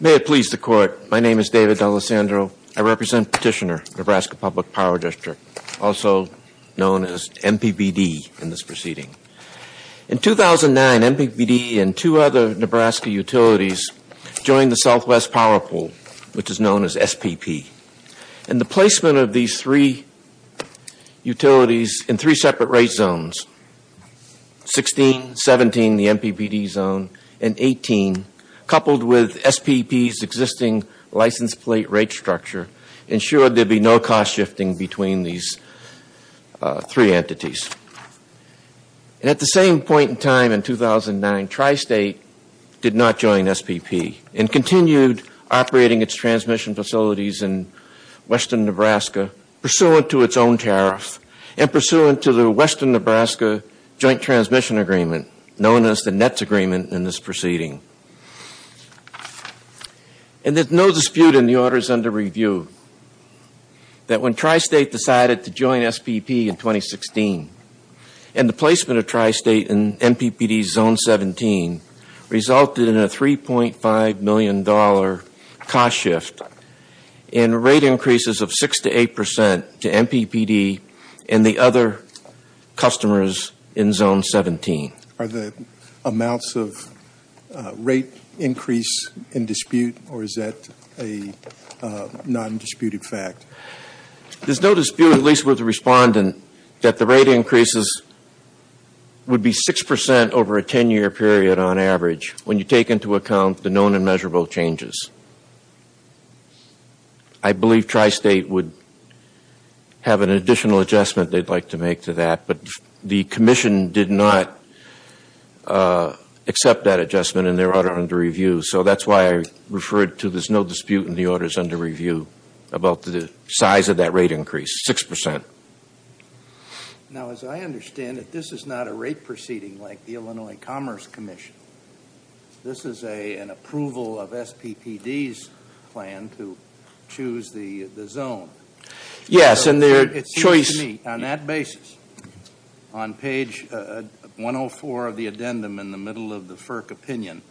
May it please the Court, my name is David D'Alessandro. I represent Petitioner, Nebraska Public Power District, also known as MPBD in this proceeding. In 2009, MPBD and two other Nebraska utilities joined the Southwest Power Pool, which is known as SPP. And the 16, 17, the MPBD zone, and 18, coupled with SPP's existing license plate rate structure, ensured there'd be no cost shifting between these three entities. And at the same point in time in 2009, Tri-State did not join SPP and continued operating its transmission facilities in Western Nebraska pursuant to its own tariff and pursuant to the Western Nebraska Joint Transmission Agreement, known as the NETS Agreement in this proceeding. And there's no dispute in the orders under review that when Tri-State decided to join SPP in 2016, and the placement of Tri-State in MPBD's zone 17 resulted in a $3.5 million cost shift in rate increases of 6 to 8 percent to MPBD and the other customers in zone 17. Are the amounts of rate increase in dispute or is that a non-disputed fact? There's no dispute, at least with the respondent, that the rate increases would be 6 percent over a 10-year period on average when you take into account the known and measurable changes. I believe Tri-State would have an additional adjustment they'd like to make to that, but the commission did not accept that adjustment in their order under review. So that's why I referred to there's no dispute in the orders under review about the size of that rate increase, 6 percent. Now as I understand it, this is not a rate proceeding like the Illinois Commerce Commission. This is an approval of SPPD's plan to choose the zone. Yes, and their choice On that basis, on page 104 of the addendum in the middle of the FERC opinion,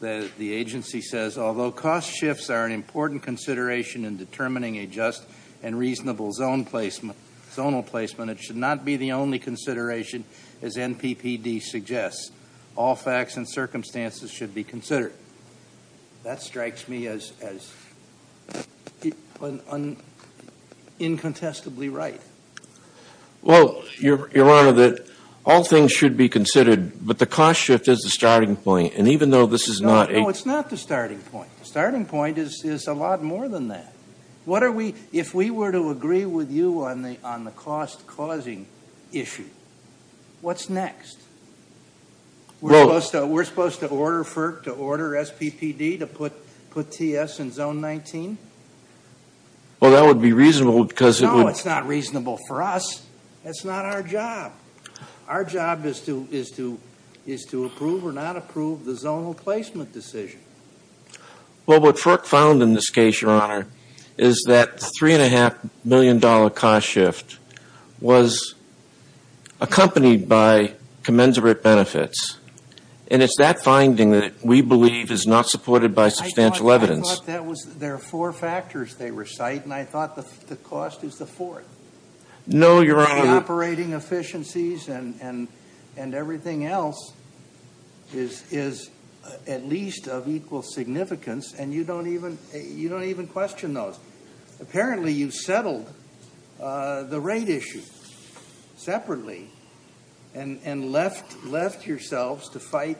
the agency says, although cost shifts are an important consideration in determining a just and reasonable zone placement, it should not be the only consideration, as NPPD suggests. All facts and circumstances should be considered. That strikes me as incontestably right. Well, Your Honor, all things should be considered, but the cost shift is the starting point, and even though this is not a No, it's not the starting point. The starting point is a lot more than that. What are we, if we were to agree with you on the cost-causing issue, what's next? We're supposed to order FERC to order SPPD to put TS in zone 19? Well, that would be reasonable because it would No, it's not reasonable for us. That's not our job. Our job is to approve or not approve the zonal placement decision. Well, what FERC found in this case, Your Honor, is that the $3.5 million cost shift was accompanied by commensurate benefits, and it's that finding that we believe is not supported by substantial evidence. There are four factors they recite, and I thought the cost is the fourth. No, Your Honor. Operating efficiencies and everything else is at least of equal significance, and you don't even question those. Apparently, you settled the rate issue separately and left yourselves to fight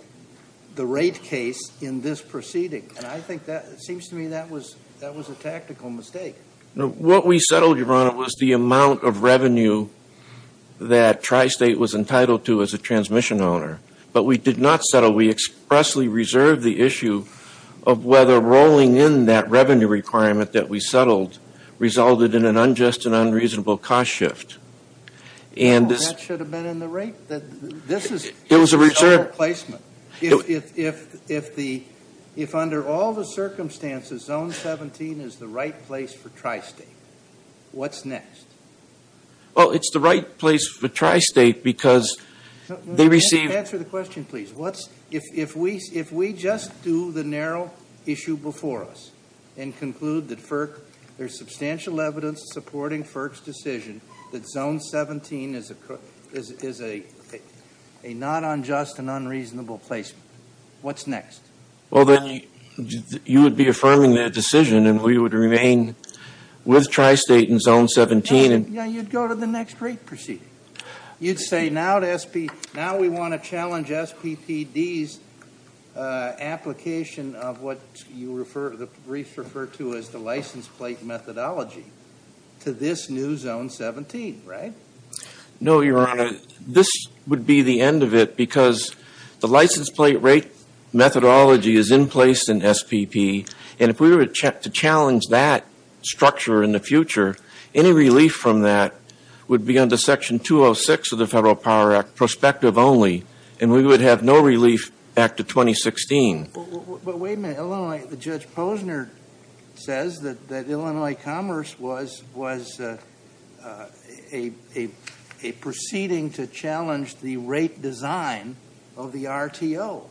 the rate case in this proceeding, and I think that seems to me that was a tactical mistake. No, what we settled, Your Honor, was the amount of revenue that Tri-State was entitled to as a transmission owner, but we did not settle. We expressly reserved the issue of whether rolling in that revenue requirement that we settled resulted in an unjust and unreasonable cost shift. Well, that should have been in the rate. This is zonal placement. If under all the circumstances, zone 17 is the right place for Tri-State, what's next? Well, it's the right place for Tri-State because they receive... Answer the question, please. If we just do the narrow issue before us and conclude that there's substantial evidence supporting FERC's decision that zone 17 is a not unjust and unreasonable placement, what's next? Well, then you would be affirming that decision, and we would remain with Tri-State in zone 17. Yeah, you'd go to the next rate proceeding. You'd say, now we want to challenge SPPD's application of what the briefs refer to as the license plate methodology to this new zone 17, right? No, Your Honor. This would be the end of it because the license plate rate methodology is in place in SPP, and if we were to challenge that structure in the future, any relief from that would be under section 206 of the Federal Power Act, prospective only, and we would have no relief back to 2016. But wait a minute. Illinois, Judge Posner says that Illinois Commerce was a proceeding to challenge the rate design of the RTO.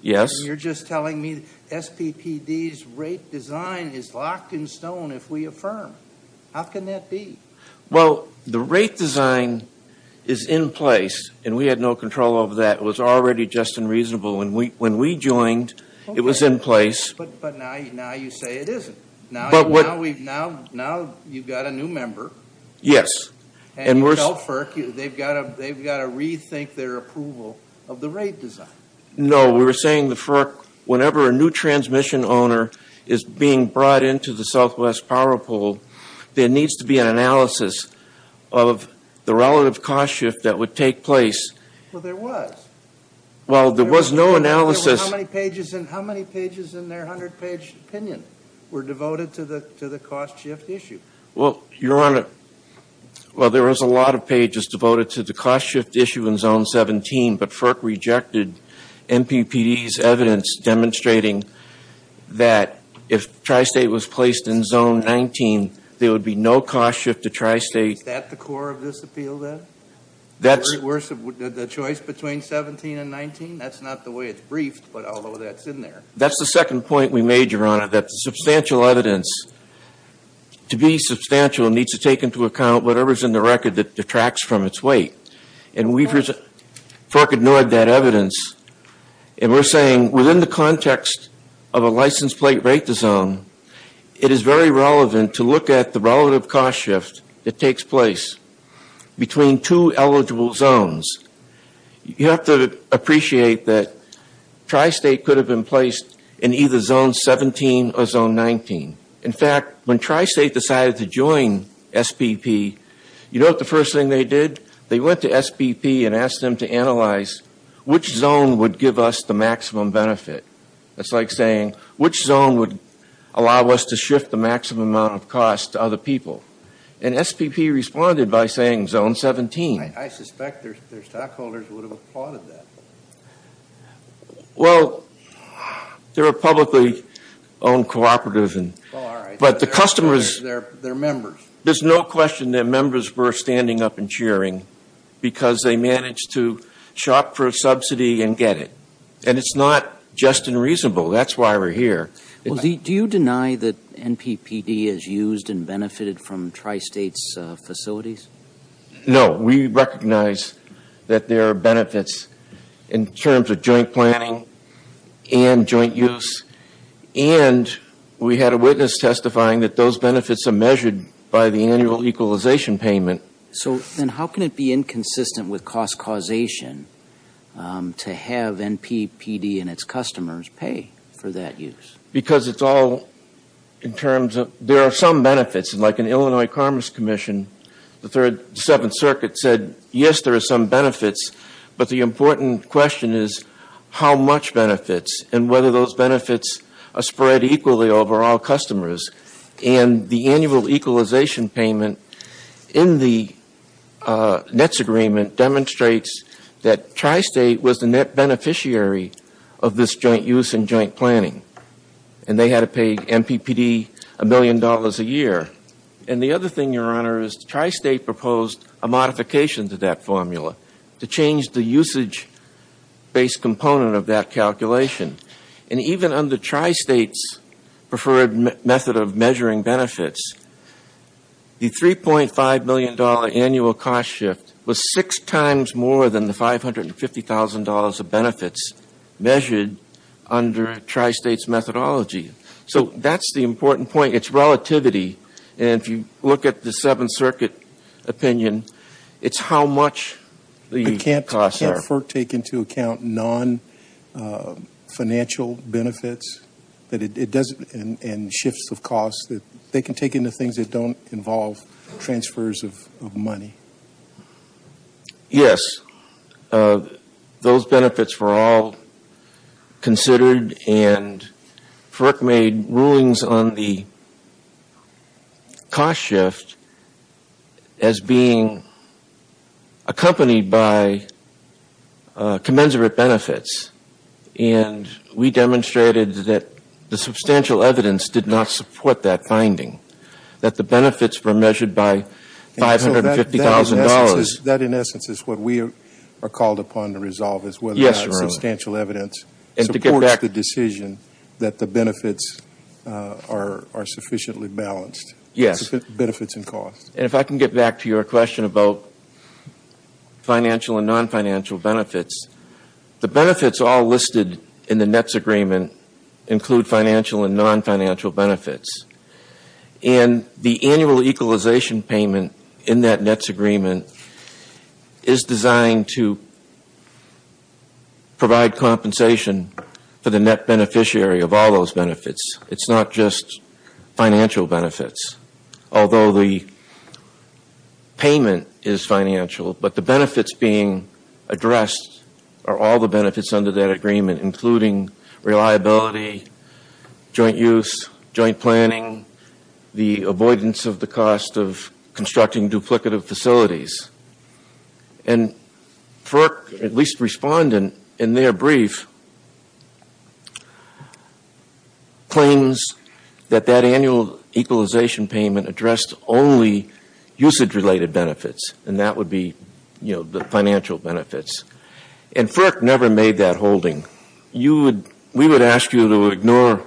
Yes. You're just telling me SPPD's rate design is locked in stone if we affirm. How can that be? Well, the rate design is in place, and we had no control over that. It was already just and reasonable when we joined. It was in place. But now you say it isn't. Now you've got a new member. Yes. And you tell FERC they've got to rethink their approval of the rate design. No, we were saying the FERC, whenever a new transmission owner is being brought into the Southwest Power Pole, there needs to be an analysis of the relative cost shift that would take place. Well, there was. Well, there was no analysis. How many pages in their 100-page opinion were devoted to the cost shift issue? Well, there was a lot of pages devoted to the cost shift issue in Zone 17, but FERC rejected MPPD's evidence demonstrating that if Tri-State was placed in Zone 19, there would be no cost shift to Tri-State. Is that the core of this appeal, then? The choice between 17 and 19? That's not the way it's briefed, but although that's in there. That's the second point we made, Your Honor, that substantial evidence, to be substantial, needs to take into account whatever's in the record that detracts from its weight. And FERC ignored that evidence. And we're saying within the context of a license plate rate design, it is very relevant to look at the relative cost shift that takes place between two eligible zones. You have to appreciate that Tri-State could have been placed in either Zone 17 or Zone 19. In fact, when Tri-State decided to join SPP, you know what the first thing they did? They went to SPP and asked them to analyze which zone would give us the maximum benefit. That's like saying, which zone would allow us to shift the maximum amount of cost to other people? And SPP responded by saying Zone 17. I suspect their stockholders would have applauded that. Well, they're a publicly owned cooperative. Oh, all right. But the customers. They're members. There's no question that members were standing up and cheering because they managed to shop for a subsidy and get it. And it's not just and reasonable. That's why we're here. Do you deny that NPPD is used and benefited from Tri-State's facilities? No. We recognize that there are benefits in terms of joint planning and joint use. And we had a witness testifying that those benefits are measured by the annual equalization payment. So then how can it be inconsistent with cost causation to have NPPD and its customers pay for that use? Because it's all in terms of there are some benefits. And like an Illinois Commerce Commission, the Third and Seventh Circuit said, yes, there are some benefits. But the important question is how much benefits and whether those benefits are spread equally over all customers. And the annual equalization payment in the NETS agreement demonstrates that Tri-State was the net beneficiary of this joint use and joint planning. And they had to pay NPPD a million dollars a year. And the other thing, Your Honor, is Tri-State proposed a modification to that formula to change the usage-based component of that calculation. And even under Tri-State's preferred method of measuring benefits, the $3.5 million annual cost shift was six times more than the $550,000 of benefits measured under Tri-State's methodology. So that's the important point. It's relativity. And if you look at the Seventh Circuit opinion, it's how much the costs are. Does FERC take into account non-financial benefits and shifts of costs that they can take into things that don't involve transfers of money? Yes. Those benefits were all considered, and FERC made rulings on the cost shift as being accompanied by commensurate benefits. And we demonstrated that the substantial evidence did not support that finding, that the benefits were measured by $550,000. That, in essence, is what we are called upon to resolve, is whether that substantial evidence supports the decision that the benefits are sufficiently balanced. Yes. Benefits and costs. And if I can get back to your question about financial and non-financial benefits, the benefits all listed in the NETS agreement include financial and non-financial benefits. And the annual equalization payment in that NETS agreement is designed to provide compensation for the NET beneficiary of all those benefits. It's not just financial benefits. Although the payment is financial, but the benefits being addressed are all the benefits under that agreement, including reliability, joint use, joint planning, the avoidance of the cost of constructing duplicative facilities. And FERC, at least respondent in their brief, claims that that annual equalization payment addressed only usage-related benefits, and that would be, you know, the financial benefits. And FERC never made that holding. We would ask you to ignore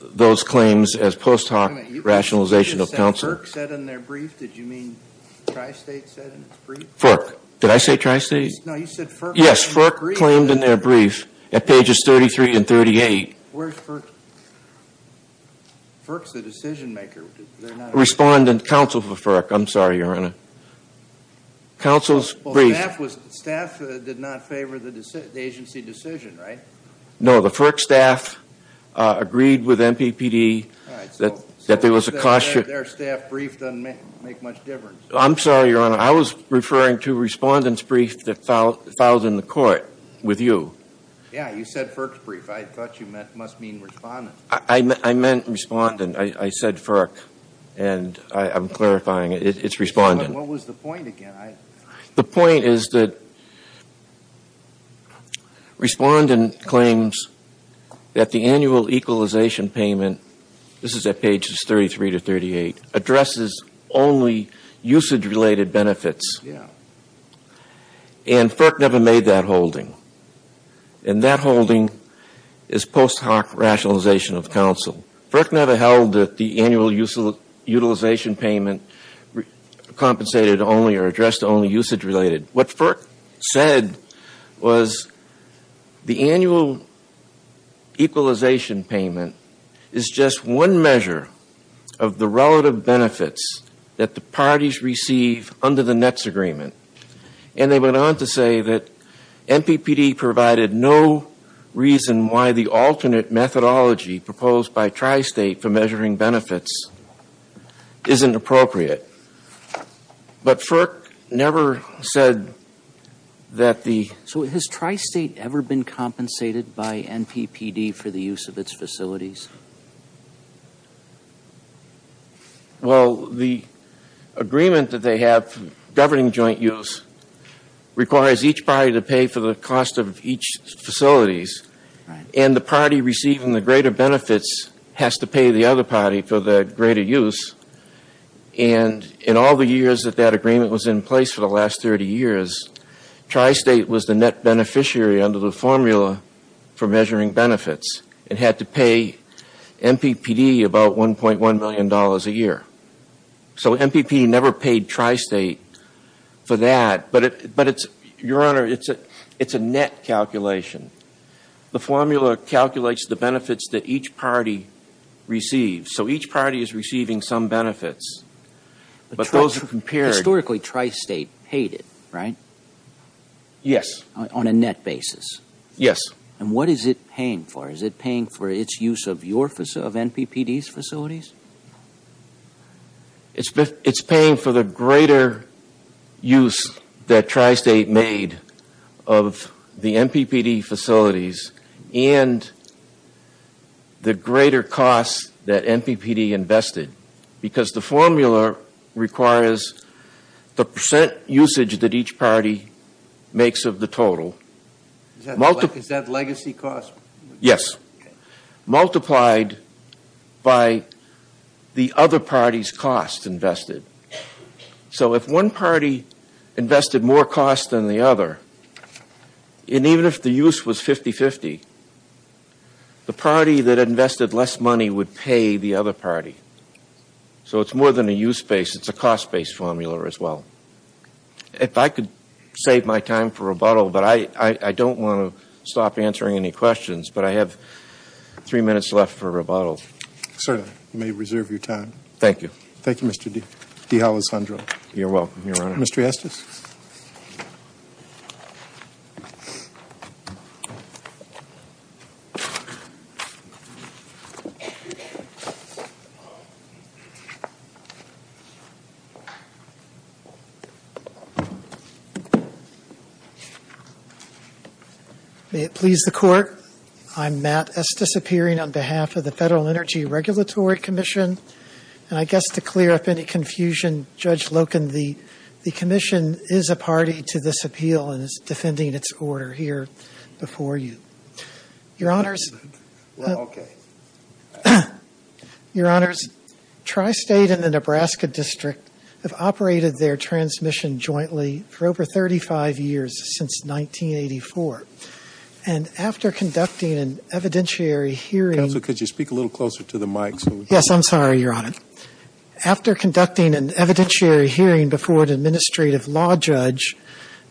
those claims as post hoc rationalization of counsel. FERC said in their brief? Did you mean Tri-State said in its brief? FERC. Did I say Tri-State? No, you said FERC claimed in their brief. Yes, FERC claimed in their brief at pages 33 and 38. Where's FERC? FERC's the decision maker. Respondent counsel for FERC. I'm sorry, Your Honor. Counsel's brief. Staff did not favor the agency decision, right? No, the FERC staff agreed with MPPD that there was a cost. Their staff brief doesn't make much difference. I'm sorry, Your Honor. I was referring to respondent's brief that filed in the court with you. Yeah, you said FERC's brief. I thought you must mean respondent's. I meant respondent. I said FERC, and I'm clarifying it. It's respondent. What was the point again? The point is that respondent claims that the annual equalization payment, this is at pages 33 to 38, addresses only usage-related benefits. And FERC never made that holding. And that holding is post hoc rationalization of counsel. FERC never held that the annual utilization payment compensated only or addressed only usage-related. What FERC said was the annual equalization payment is just one measure of the relative benefits that the parties receive under the NETS agreement. And they went on to say that MPPD provided no reason why the alternate methodology proposed by Tri-State for measuring benefits isn't appropriate. But FERC never said that the So has Tri-State ever been compensated by MPPD for the use of its facilities? Well, the agreement that they have governing joint use requires each party to pay for the cost of each facility. And the party receiving the greater benefits has to pay the other party for the greater use. And in all the years that that agreement was in place for the last 30 years, Tri-State was the net beneficiary under the formula for measuring benefits. It had to pay MPPD about $1.1 million a year. So MPPD never paid Tri-State for that. But it's, Your Honor, it's a NET calculation. The formula calculates the benefits that each party receives. So each party is receiving some benefits. But those are compared Historically, Tri-State paid it, right? Yes. On a NET basis? Yes. And what is it paying for? Is it paying for its use of MPPD's facilities? It's paying for the greater use that Tri-State made of the MPPD facilities and the greater cost that MPPD invested. Because the formula requires the percent usage that each party makes of the total. Is that legacy cost? Yes. Multiplied by the other party's cost invested. So if one party invested more cost than the other, and even if the use was 50-50, the party that invested less money would pay the other party. So it's more than a use base. It's a cost-based formula as well. If I could save my time for rebuttal, but I don't want to stop answering any questions, but I have three minutes left for rebuttal. Certainly. You may reserve your time. Thank you. Thank you, Mr. D'Alessandro. You're welcome, Your Honor. Mr. Estes. May it please the Court. I'm Matt Estes, appearing on behalf of the Federal Energy Regulatory Commission. And I guess to clear up any confusion, Judge Loken, the commission is a party to this appeal and is defending its order here before you. Your Honors. Well, okay. Your Honors, Tri-State and the Nebraska District have operated their transportation transmission jointly for over 35 years since 1984. And after conducting an evidentiary hearing. Counsel, could you speak a little closer to the mic? Yes, I'm sorry, Your Honor. After conducting an evidentiary hearing before an administrative law judge,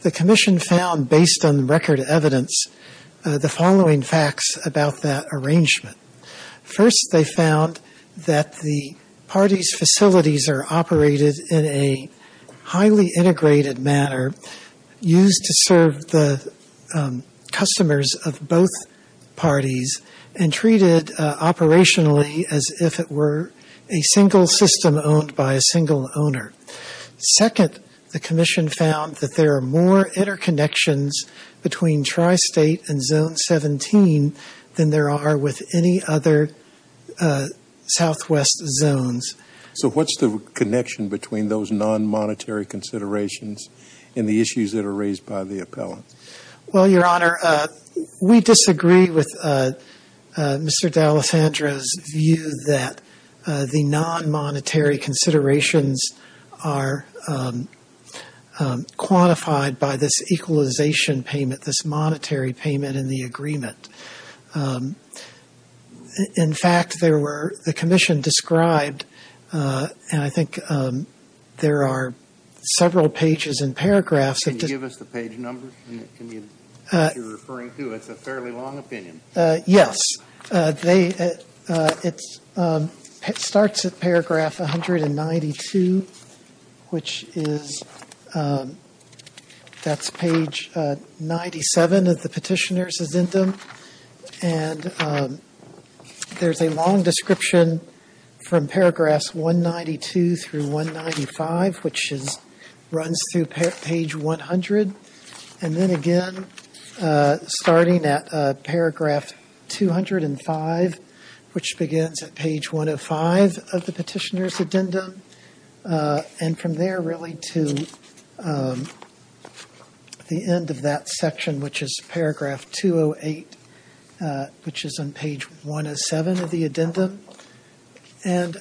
the commission found, based on record evidence, the following facts about that arrangement. First, they found that the parties' facilities are operated in a highly integrated manner, used to serve the customers of both parties, and treated operationally as if it were a single system owned by a single owner. Second, the commission found that there are more interconnections between Tri-State and Zone 17 than there are with any other southwest zones. So what's the connection between those non-monetary considerations and the issues that are raised by the appellant? Well, Your Honor, we disagree with Mr. D'Alessandro's view that the non-monetary considerations are quantified by this equalization payment, this monetary payment in the agreement. In fact, there were, the commission described, and I think there are several pages and paragraphs. Can you give us the page numbers that you're referring to? It's a fairly long opinion. Yes. It starts at paragraph 192, which is, that's page 97 of the Petitioner's Addendum. And there's a long description from paragraphs 192 through 195, which runs through page 100. And then again, starting at paragraph 205, which begins at page 105 of the Petitioner's Addendum. And from there really to the end of that section, which is paragraph 208, which is on page 107 of the Addendum. And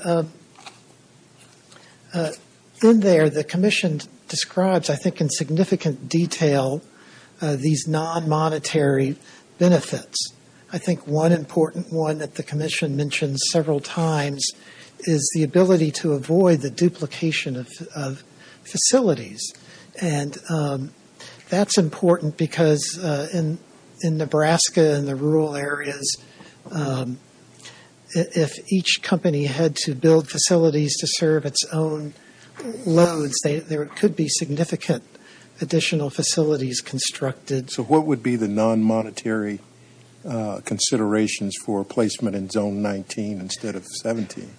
in there, the commission describes, I think in significant detail, these non-monetary benefits. I think one important one that the commission mentioned several times is the ability to avoid the duplication of facilities. And that's important because in Nebraska and the rural areas, if each company had to build facilities to serve its own loads, there could be significant additional facilities constructed. So what would be the non-monetary considerations for placement in Zone 19 instead of 17?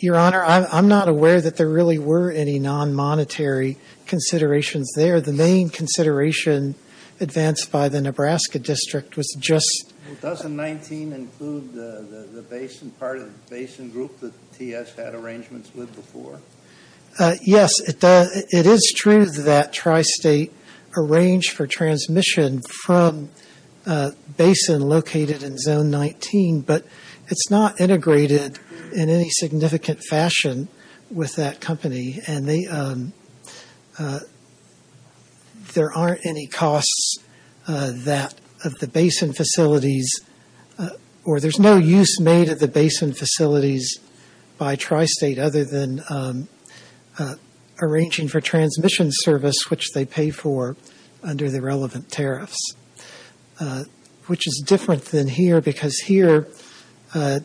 Your Honor, I'm not aware that there really were any non-monetary considerations there. The main consideration advanced by the Nebraska District was just – Doesn't 19 include the basin part of the basin group that TS had arrangements with before? Yes. It is true that Tri-State arranged for transmission from a basin located in Zone 19. But it's not integrated in any significant fashion with that company. And there aren't any costs of the basin facilities – or there's no use made of the basin facilities by Tri-State other than arranging for transmission service, which they pay for under the relevant tariffs. Which is different than here because here the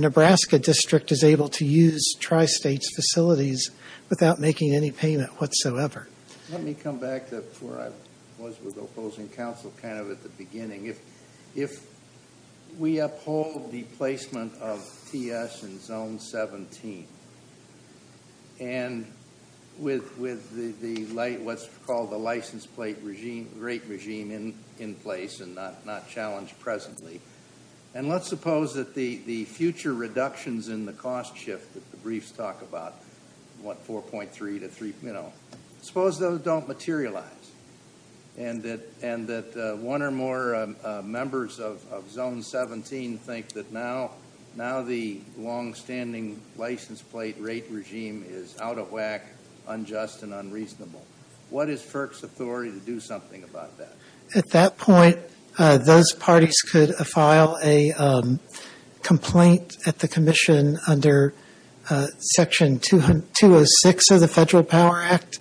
Nebraska District is able to use Tri-State's facilities without making any payment whatsoever. Let me come back to where I was with opposing counsel kind of at the beginning. If we uphold the placement of TS in Zone 17, and with what's called the license plate rate regime in place and not challenged presently, and let's suppose that the future reductions in the cost shift that the briefs talk about, what, 4.3 to 3 – you know, suppose those don't materialize and that one or more members of Zone 17 think that now the longstanding license plate rate regime is out of whack, unjust, and unreasonable. What is FERC's authority to do something about that? At that point, those parties could file a complaint at the Commission under Section 206 of the Federal Power Act.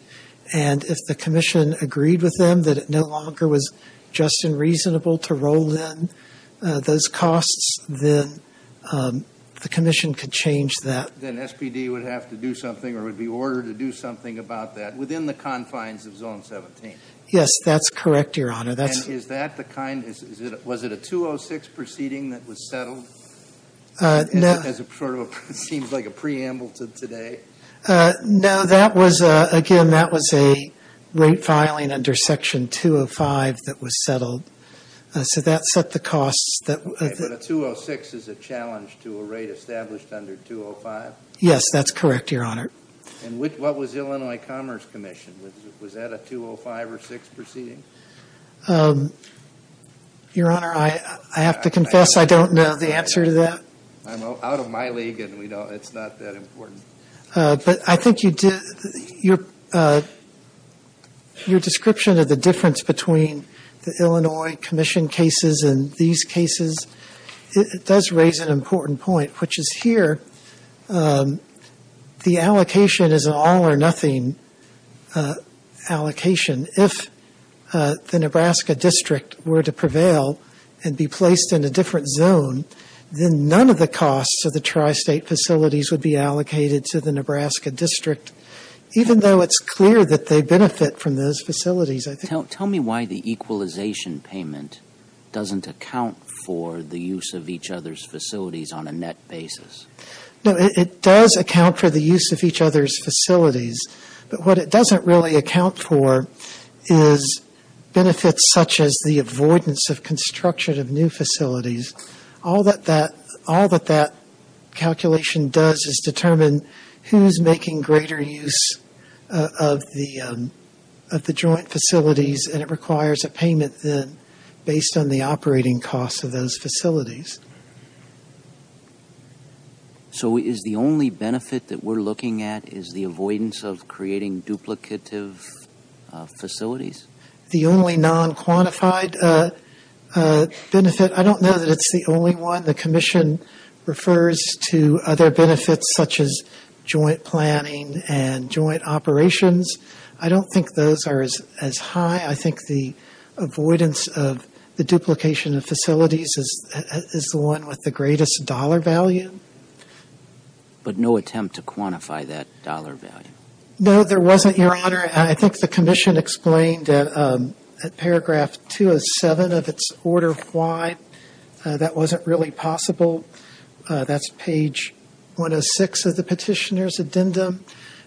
And if the Commission agreed with them that it no longer was just and reasonable to roll in those costs, then the Commission could change that. Then SPD would have to do something or would be ordered to do something about that within the confines of Zone 17. Yes, that's correct, Your Honor. And is that the kind – was it a 206 proceeding that was settled? No. It seems like a preamble to today. No, that was – again, that was a rate filing under Section 205 that was settled. So that set the costs. But a 206 is a challenge to a rate established under 205? Yes, that's correct, Your Honor. And what was Illinois Commerce Commission? Was that a 205 or 206 proceeding? Your Honor, I have to confess I don't know the answer to that. I'm out of my league, and we know it's not that important. But I think you did – your description of the difference between the Illinois Commission cases and these cases, it does raise an important point, which is here, the allocation is an all-or-nothing allocation. If the Nebraska District were to prevail and be placed in a different zone, then none of the costs of the tri-state facilities would be allocated to the Nebraska District, even though it's clear that they benefit from those facilities. Tell me why the equalization payment doesn't account for the use of each other's facilities on a net basis. No, it does account for the use of each other's facilities. But what it doesn't really account for is benefits such as the avoidance of construction of new facilities. All that that calculation does is determine who's making greater use of the joint facilities, and it requires a payment then based on the operating costs of those facilities. So is the only benefit that we're looking at is the avoidance of creating duplicative facilities? The only non-quantified benefit – I don't know that it's the only one. The Commission refers to other benefits such as joint planning and joint operations. I don't think those are as high. I think the avoidance of the duplication of facilities is the one with the greatest dollar value. But no attempt to quantify that dollar value? No, there wasn't, Your Honor. I think the Commission explained at paragraph 207 of its order why that wasn't really possible. That's page 106 of the petitioner's addendum.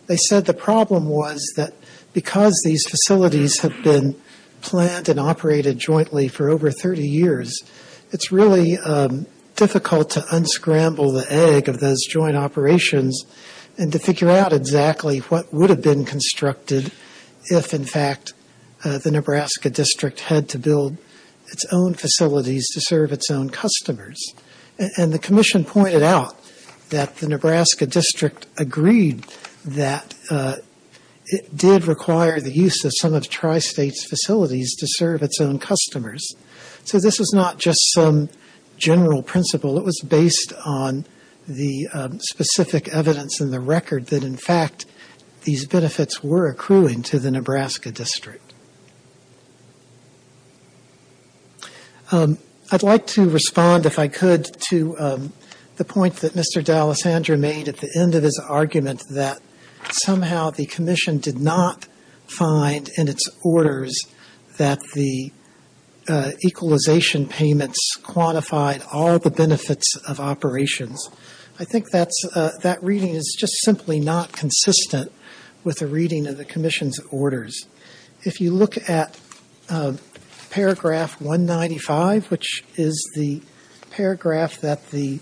They said the problem was that because these facilities have been planned and operated jointly for over 30 years, it's really difficult to unscramble the egg of those joint operations and to figure out exactly what would have been constructed if, in fact, the Nebraska District had to build its own facilities to serve its own customers. And the Commission pointed out that the Nebraska District agreed that it did require the use of some of Tri-State's facilities to serve its own customers. So this is not just some general principle. It was based on the specific evidence in the record that, in fact, these benefits were accruing to the Nebraska District. I'd like to respond, if I could, to the point that Mr. D'Alessandro made at the end of his argument that somehow the Commission did not find in its orders that the equalization payments quantified all the benefits of operations. I think that reading is just simply not consistent with the reading in the Commission's orders. If you look at paragraph 195, which is the paragraph that the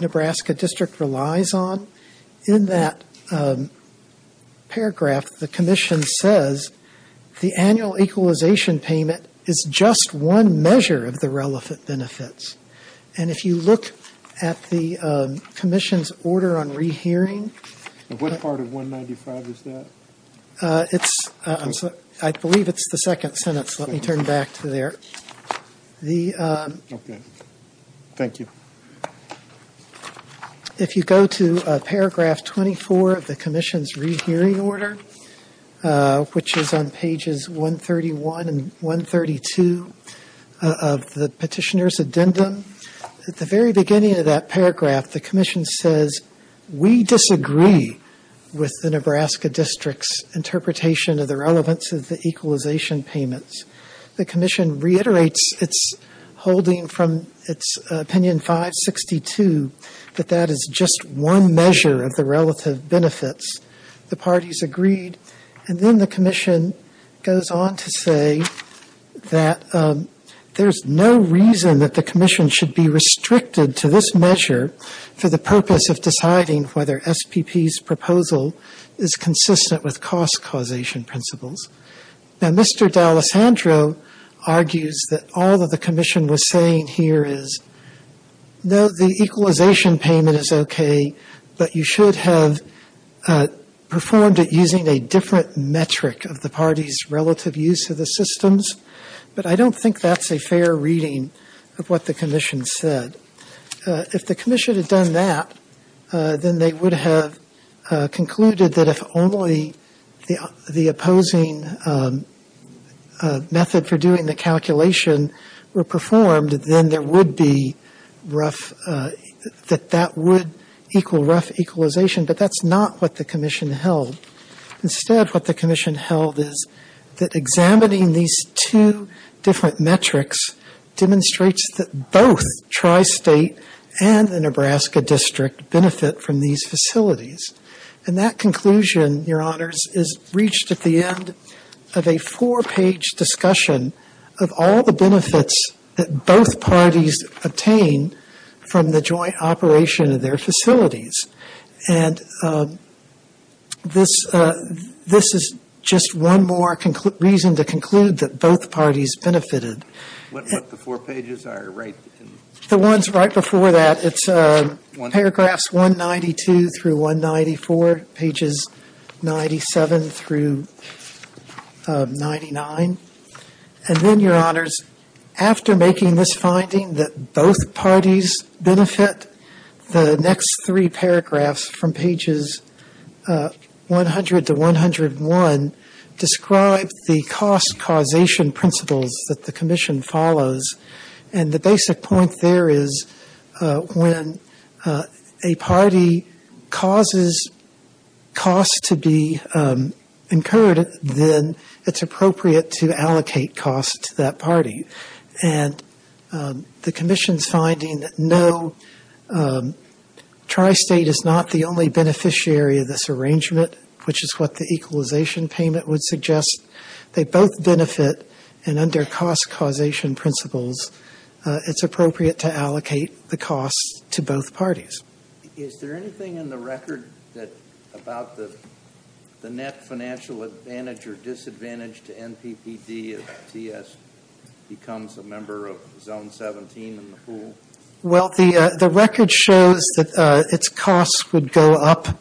Nebraska District relies on, in that paragraph the Commission says the annual equalization payment is just one measure of the relevant benefits. And if you look at the Commission's order on rehearing. And what part of 195 is that? I believe it's the second sentence. Let me turn back to there. Okay. Thank you. If you go to paragraph 24 of the Commission's rehearing order, at the very beginning of that paragraph the Commission says, we disagree with the Nebraska District's interpretation of the relevance of the equalization payments. The Commission reiterates its holding from its opinion 562 that that is just one measure of the relative benefits. The parties agreed. And then the Commission goes on to say that there's no reason that the Commission should be restricted to this measure for the purpose of deciding whether SPP's proposal is consistent with cost causation principles. Now, Mr. D'Alessandro argues that all that the Commission was saying here is, no, the equalization payment is okay, but you should have performed it using a different metric of the party's relative use of the systems. But I don't think that's a fair reading of what the Commission said. If the Commission had done that, then they would have concluded that if only the opposing method for doing the calculation were performed, then there would be rough, that that would equal rough equalization. But that's not what the Commission held. Instead, what the Commission held is that examining these two different metrics demonstrates that both Tri-State and the Nebraska District benefit from these facilities. And that conclusion, Your Honors, is reached at the end of a four-page discussion of all the benefits that both parties obtain from the joint operation of their facilities. And this is just one more reason to conclude that both parties benefited. What the four pages are, right? The ones right before that. It's paragraphs 192 through 194, pages 97 through 99. And then, Your Honors, after making this finding that both parties benefit, the next three paragraphs from pages 100 to 101 describe the cost causation principles that the Commission follows. And the basic point there is when a party causes costs to be incurred, then it's appropriate to allocate costs to that party. And the Commission's finding that no, Tri-State is not the only beneficiary of this arrangement, which is what the equalization payment would suggest. They both benefit, and under cost causation principles, it's appropriate to allocate the costs to both parties. Is there anything in the record about the net financial advantage or disadvantage to NPPD if TS becomes a member of Zone 17 in the pool? Well, the record shows that its costs would go up.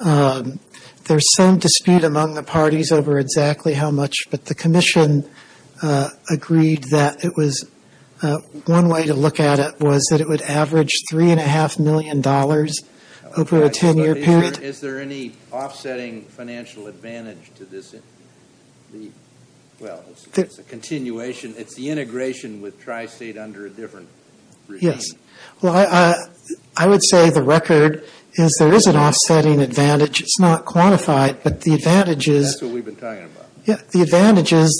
There's some dispute among the parties over exactly how much, but the Commission agreed that one way to look at it was that it would average $3.5 million over a 10-year period. Is there any offsetting financial advantage to this? Well, it's a continuation. It's the integration with Tri-State under a different regime. Yes. Well, I would say the record is there is an offsetting advantage. It's not quantified, but the advantage is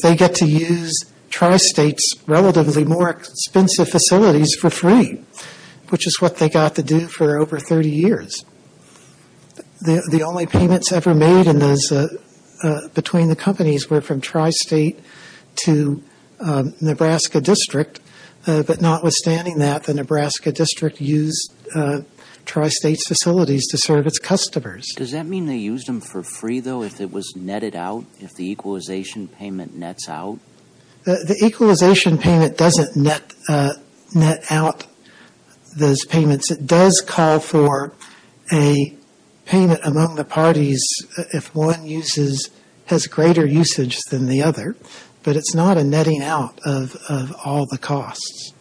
they get to use Tri-State's relatively more expensive facilities for free, which is what they got to do for over 30 years. The only payments ever made between the companies were from Tri-State to Nebraska District, but notwithstanding that, the Nebraska District used Tri-State's facilities to serve its customers. Does that mean they used them for free, though, if it was netted out, if the equalization payment nets out? The equalization payment doesn't net out those payments. It does call for a payment among the parties if one has greater usage than the other, but it's not a netting out of all the costs.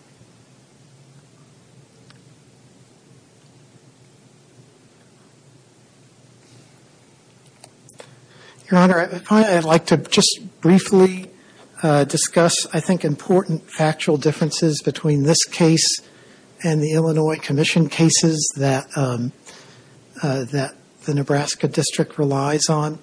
Your Honor, I'd like to just briefly discuss, I think, important factual differences between this case and the Illinois Commission cases that the Nebraska District relies on.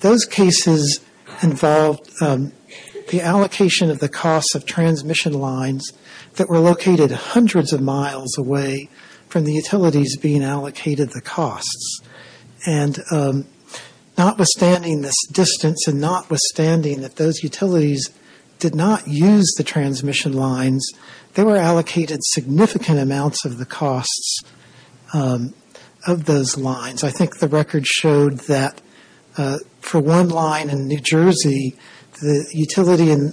Those cases involved the allocation of the costs of transmission lines that were located hundreds of miles away from the utilities being allocated the costs, and notwithstanding this distance and notwithstanding that those utilities did not use the transmission lines, they were allocated significant amounts of the costs of those lines. I think the record showed that for one line in New Jersey, the utility in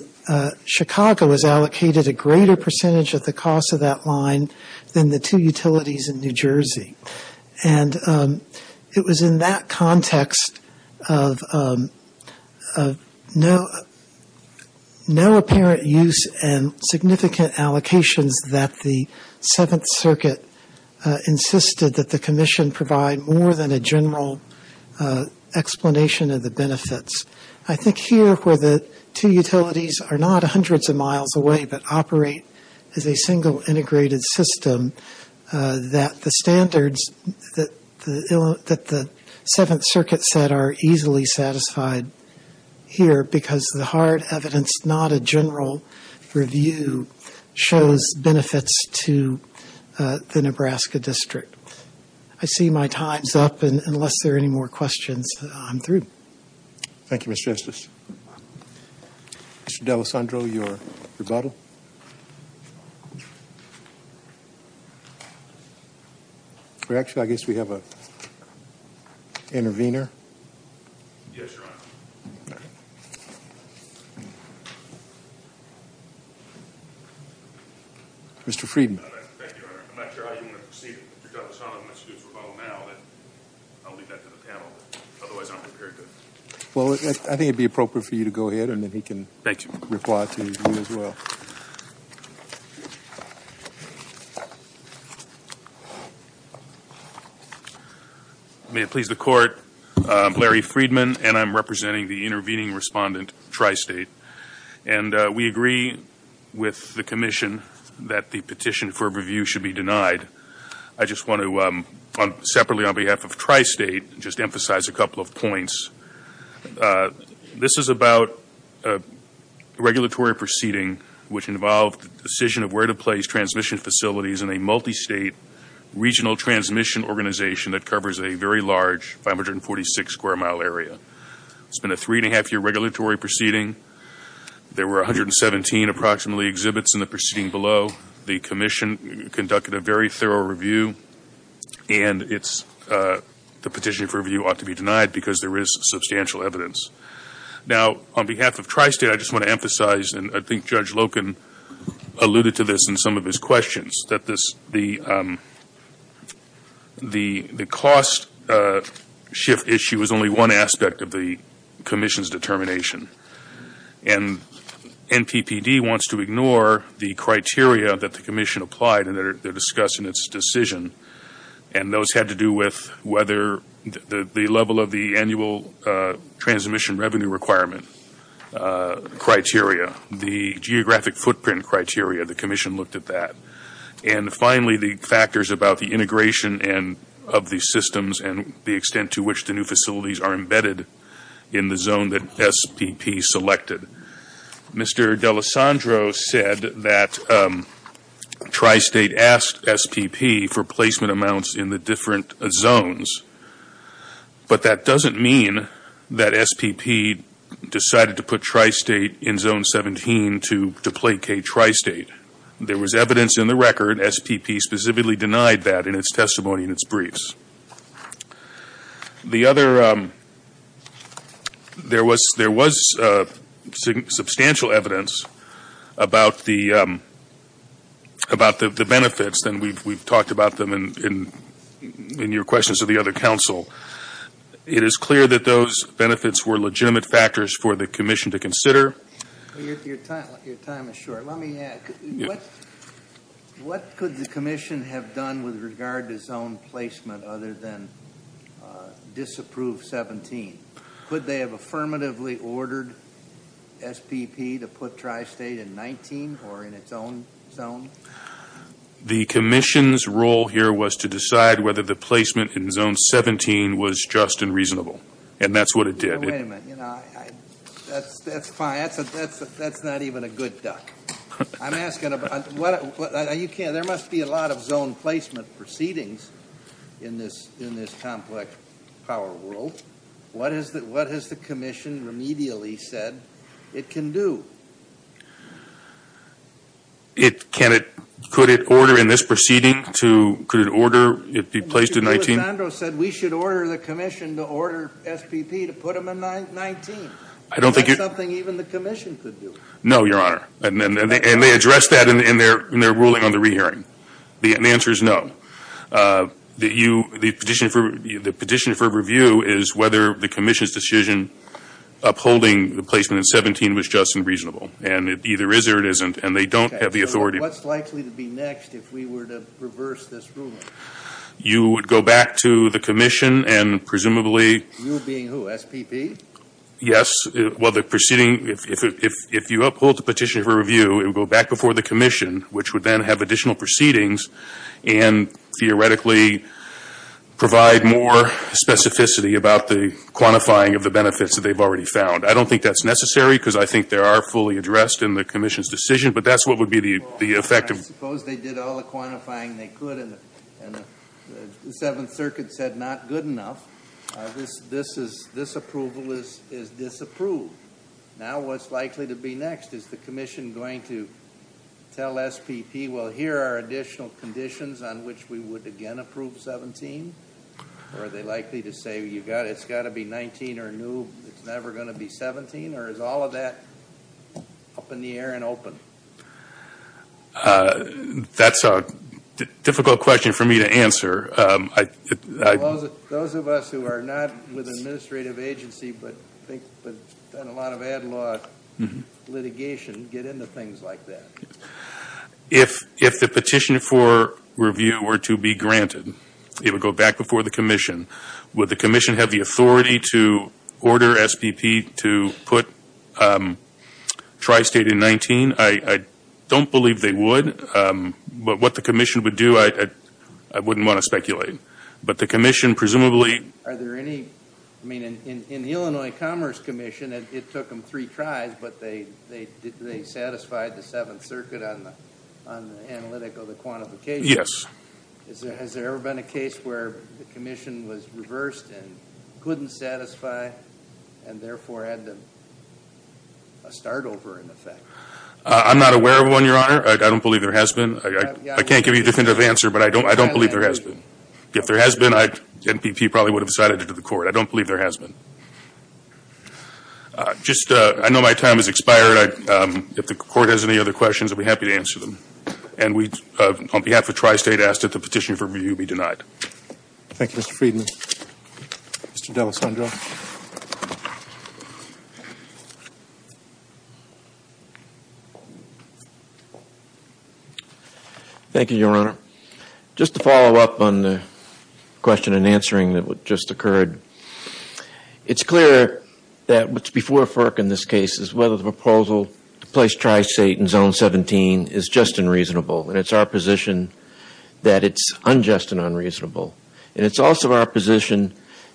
Chicago was allocated a greater percentage of the cost of that line than the two utilities in New Jersey. And it was in that context of no apparent use and significant allocations that the Seventh Circuit insisted that the Commission provide more than a general explanation of the benefits. I think here where the two utilities are not hundreds of miles away but operate as a single integrated system, that the standards that the Seventh Circuit said are easily satisfied here because the hard evidence, not a general review, shows benefits to the Nebraska District. I see my time's up, and unless there are any more questions, I'm through. Thank you, Mr. Justice. Mr. D'Alessandro, your rebuttal? Actually, I guess we have an intervener. Yes, Your Honor. Mr. Friedman. Thank you, Your Honor. I'm not sure how you want to proceed, Mr. Douglas. I don't have much to do with rebuttal now. I'll leave that to the panel. Otherwise, I'm prepared to. Well, I think it would be appropriate for you to go ahead, and then he can reply to you as well. Thank you. May it please the Court, I'm Larry Friedman, and I'm representing the intervening respondent, Tri-State. And we agree with the commission that the petition for review should be denied. I just want to, separately on behalf of Tri-State, just emphasize a couple of points. This is about a regulatory proceeding which involved the decision of where to place transmission facilities in a multistate regional transmission organization that covers a very large 546-square-mile area. It's been a three-and-a-half-year regulatory proceeding. There were 117 approximately exhibits in the proceeding below. The commission conducted a very thorough review. And the petition for review ought to be denied because there is substantial evidence. Now, on behalf of Tri-State, I just want to emphasize, and I think Judge Loken alluded to this in some of his questions, that the cost shift issue is only one aspect of the commission's determination. And NPPD wants to ignore the criteria that the commission applied and that are discussed in its decision. And those had to do with whether the level of the annual transmission revenue requirement criteria, the geographic footprint criteria, the commission looked at that. And finally, the factors about the integration of the systems and the extent to which the new facilities are embedded in the zone that SPP selected. Mr. D'Alessandro said that Tri-State asked SPP for placement amounts in the different zones. But that doesn't mean that SPP decided to put Tri-State in Zone 17 to placate Tri-State. There was evidence in the record SPP specifically denied that in its testimony and its briefs. The other, there was substantial evidence about the benefits, and we've talked about them in your questions of the other counsel. It is clear that those benefits were legitimate factors for the commission to consider. Your time is short. Let me add, what could the commission have done with regard to zone placement other than disapprove 17? Could they have affirmatively ordered SPP to put Tri-State in 19 or in its own zone? The commission's role here was to decide whether the placement in Zone 17 was just and reasonable. And that's what it did. Wait a minute. That's fine. That's not even a good duck. I'm asking about, there must be a lot of zone placement proceedings in this complex power world. What has the commission remedially said it can do? Could it order in this proceeding to, could it order it be placed in 19? Alexandro said we should order the commission to order SPP to put them in 19. Is that something even the commission could do? No, Your Honor. And they addressed that in their ruling on the re-hearing. The answer is no. The petition for review is whether the commission's decision upholding the placement in 17 was just and reasonable. And it either is or it isn't, and they don't have the authority. What's likely to be next if we were to reverse this ruling? You would go back to the commission and presumably- You being who? SPP? Yes. Well, the proceeding, if you uphold the petition for review, it would go back before the commission, which would then have additional proceedings and theoretically provide more specificity about the quantifying of the benefits that they've already found. I don't think that's necessary because I think they are fully addressed in the commission's decision, but that's what would be the effect of- I suppose they did all the quantifying they could, and the Seventh Circuit said not good enough. This approval is disapproved. Now what's likely to be next? Is the commission going to tell SPP, well, here are additional conditions on which we would again approve 17? Or are they likely to say it's got to be 19 or new, it's never going to be 17? Or is all of that up in the air and open? That's a difficult question for me to answer. Those of us who are not with an administrative agency but have done a lot of ad law litigation get into things like that. If the petition for review were to be granted, it would go back before the commission. Would the commission have the authority to order SPP to put tri-state in 19? I don't believe they would, but what the commission would do, I wouldn't want to speculate. But the commission presumably- Are there any- I mean, in the Illinois Commerce Commission, it took them three tries, but they satisfied the Seventh Circuit on the analytic of the quantification. Yes. Has there ever been a case where the commission was reversed and couldn't satisfy and therefore had a start over in effect? I'm not aware of one, Your Honor. I don't believe there has been. I can't give you definitive answer, but I don't believe there has been. If there has been, NPP probably would have cited it to the court. I don't believe there has been. I know my time has expired. If the court has any other questions, I'll be happy to answer them. On behalf of tri-state, I ask that the petition for review be denied. Thank you, Mr. Friedman. Mr. D'Alessandro. Thank you, Your Honor. Just to follow up on the question and answering that just occurred, it's clear that what's before FERC in this case is whether the proposal to place tri-state in Zone 17 is just and reasonable. And it's our position that it's unjust and unreasonable. And it's also our position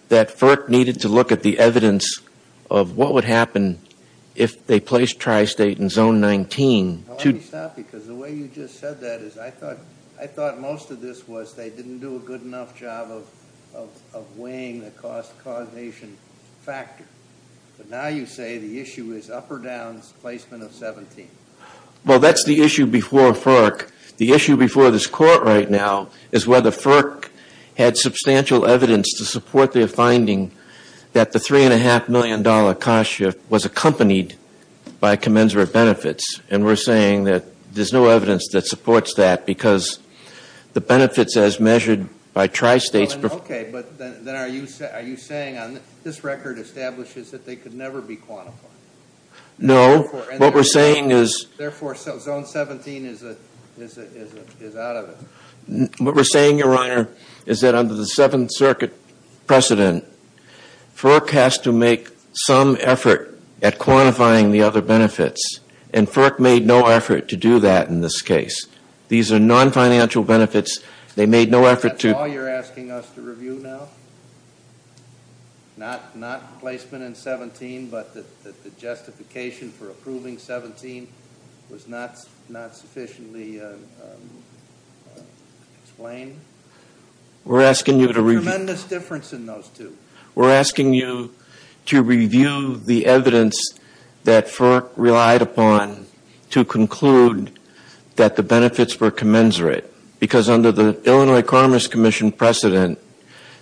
that FERC needed to look at the evidence of what would happen if they placed tri-state in Zone 19. Let me stop because the way you just said that is I thought most of this was they didn't do a good enough job of weighing the cost causation factor. But now you say the issue is up or down placement of 17. Well, that's the issue before FERC. The issue before this court right now is whether FERC had substantial evidence to support their finding that the $3.5 million cost shift was accompanied by commensurate benefits. And we're saying that there's no evidence that supports that because the benefits as measured by tri-states... Okay, but then are you saying on this record establishes that they could never be quantified? No. What we're saying is... Therefore, Zone 17 is out of it. What we're saying, Your Honor, is that under the Seventh Circuit precedent, FERC has to make some effort at quantifying the other benefits. And FERC made no effort to do that in this case. These are non-financial benefits. They made no effort to... Is that all you're asking us to review now? Not placement in 17, but that the justification for approving 17 was not sufficiently explained? We're asking you to review... There's a tremendous difference in those two. We're asking you to review the evidence that FERC relied upon to conclude that the benefits were commensurate. Because under the Illinois Commerce Commission precedent,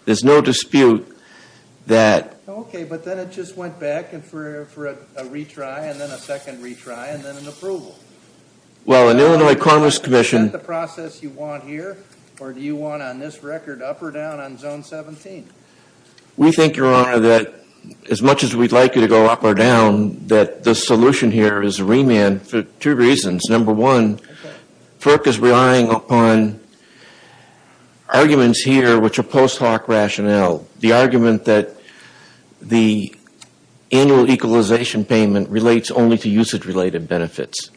there's no dispute that... Okay, but then it just went back for a retry, and then a second retry, and then an approval. Well, in Illinois Commerce Commission... Is that the process you want here? Or do you want, on this record, up or down on Zone 17? We think, Your Honor, that as much as we'd like you to go up or down, that the solution here is remand for two reasons. Number one, FERC is relying upon arguments here which are post hoc rationale. The argument that the annual equalization payment relates only to usage-related benefits.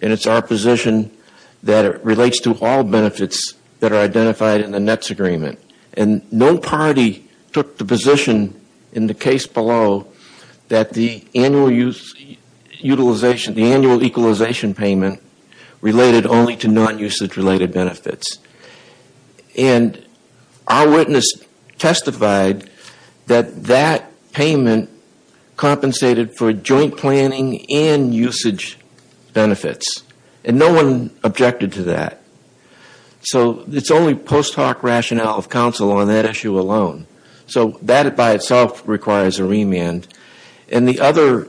And it's our position that it relates to all benefits that are identified in the NETS agreement. And no party took the position in the case below that the annual equalization payment related only to non-usage-related benefits. And our witness testified that that payment compensated for joint planning and usage benefits. And no one objected to that. So it's only post hoc rationale of counsel on that issue alone. So that by itself requires a remand. And the other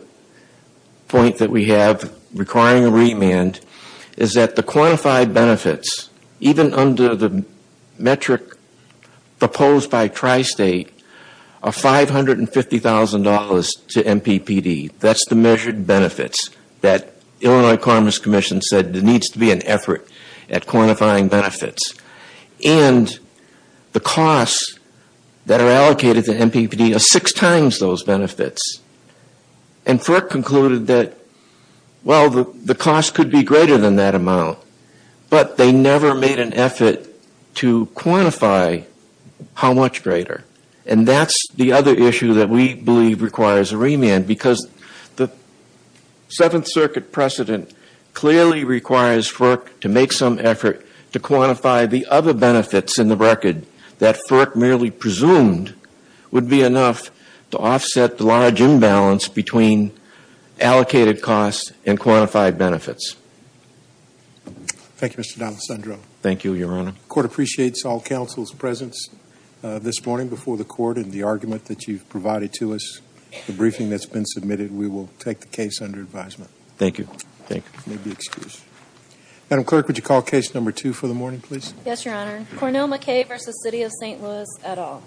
point that we have requiring a remand is that the quantified benefits, even under the metric proposed by Tri-State, are $550,000 to MPPD. That's the measured benefits that Illinois Commerce Commission said there needs to be an effort at quantifying benefits. And the costs that are allocated to MPPD are six times those benefits. And FERC concluded that, well, the cost could be greater than that amount. But they never made an effort to quantify how much greater. And that's the other issue that we believe requires a remand. Because the Seventh Circuit precedent clearly requires FERC to make some effort to quantify the other benefits in the record that FERC merely presumed would be enough to offset the large imbalance between allocated costs and quantified benefits. Thank you, Mr. D'Alessandro. Thank you, Your Honor. The Court appreciates all counsel's presence this morning before the Court and the argument that you've provided to us, the briefing that's been submitted. We will take the case under advisement. Thank you. Madam Clerk, would you call Case No. 2 for the morning, please? Yes, Your Honor. Cornell McKay v. City of St. Louis et al.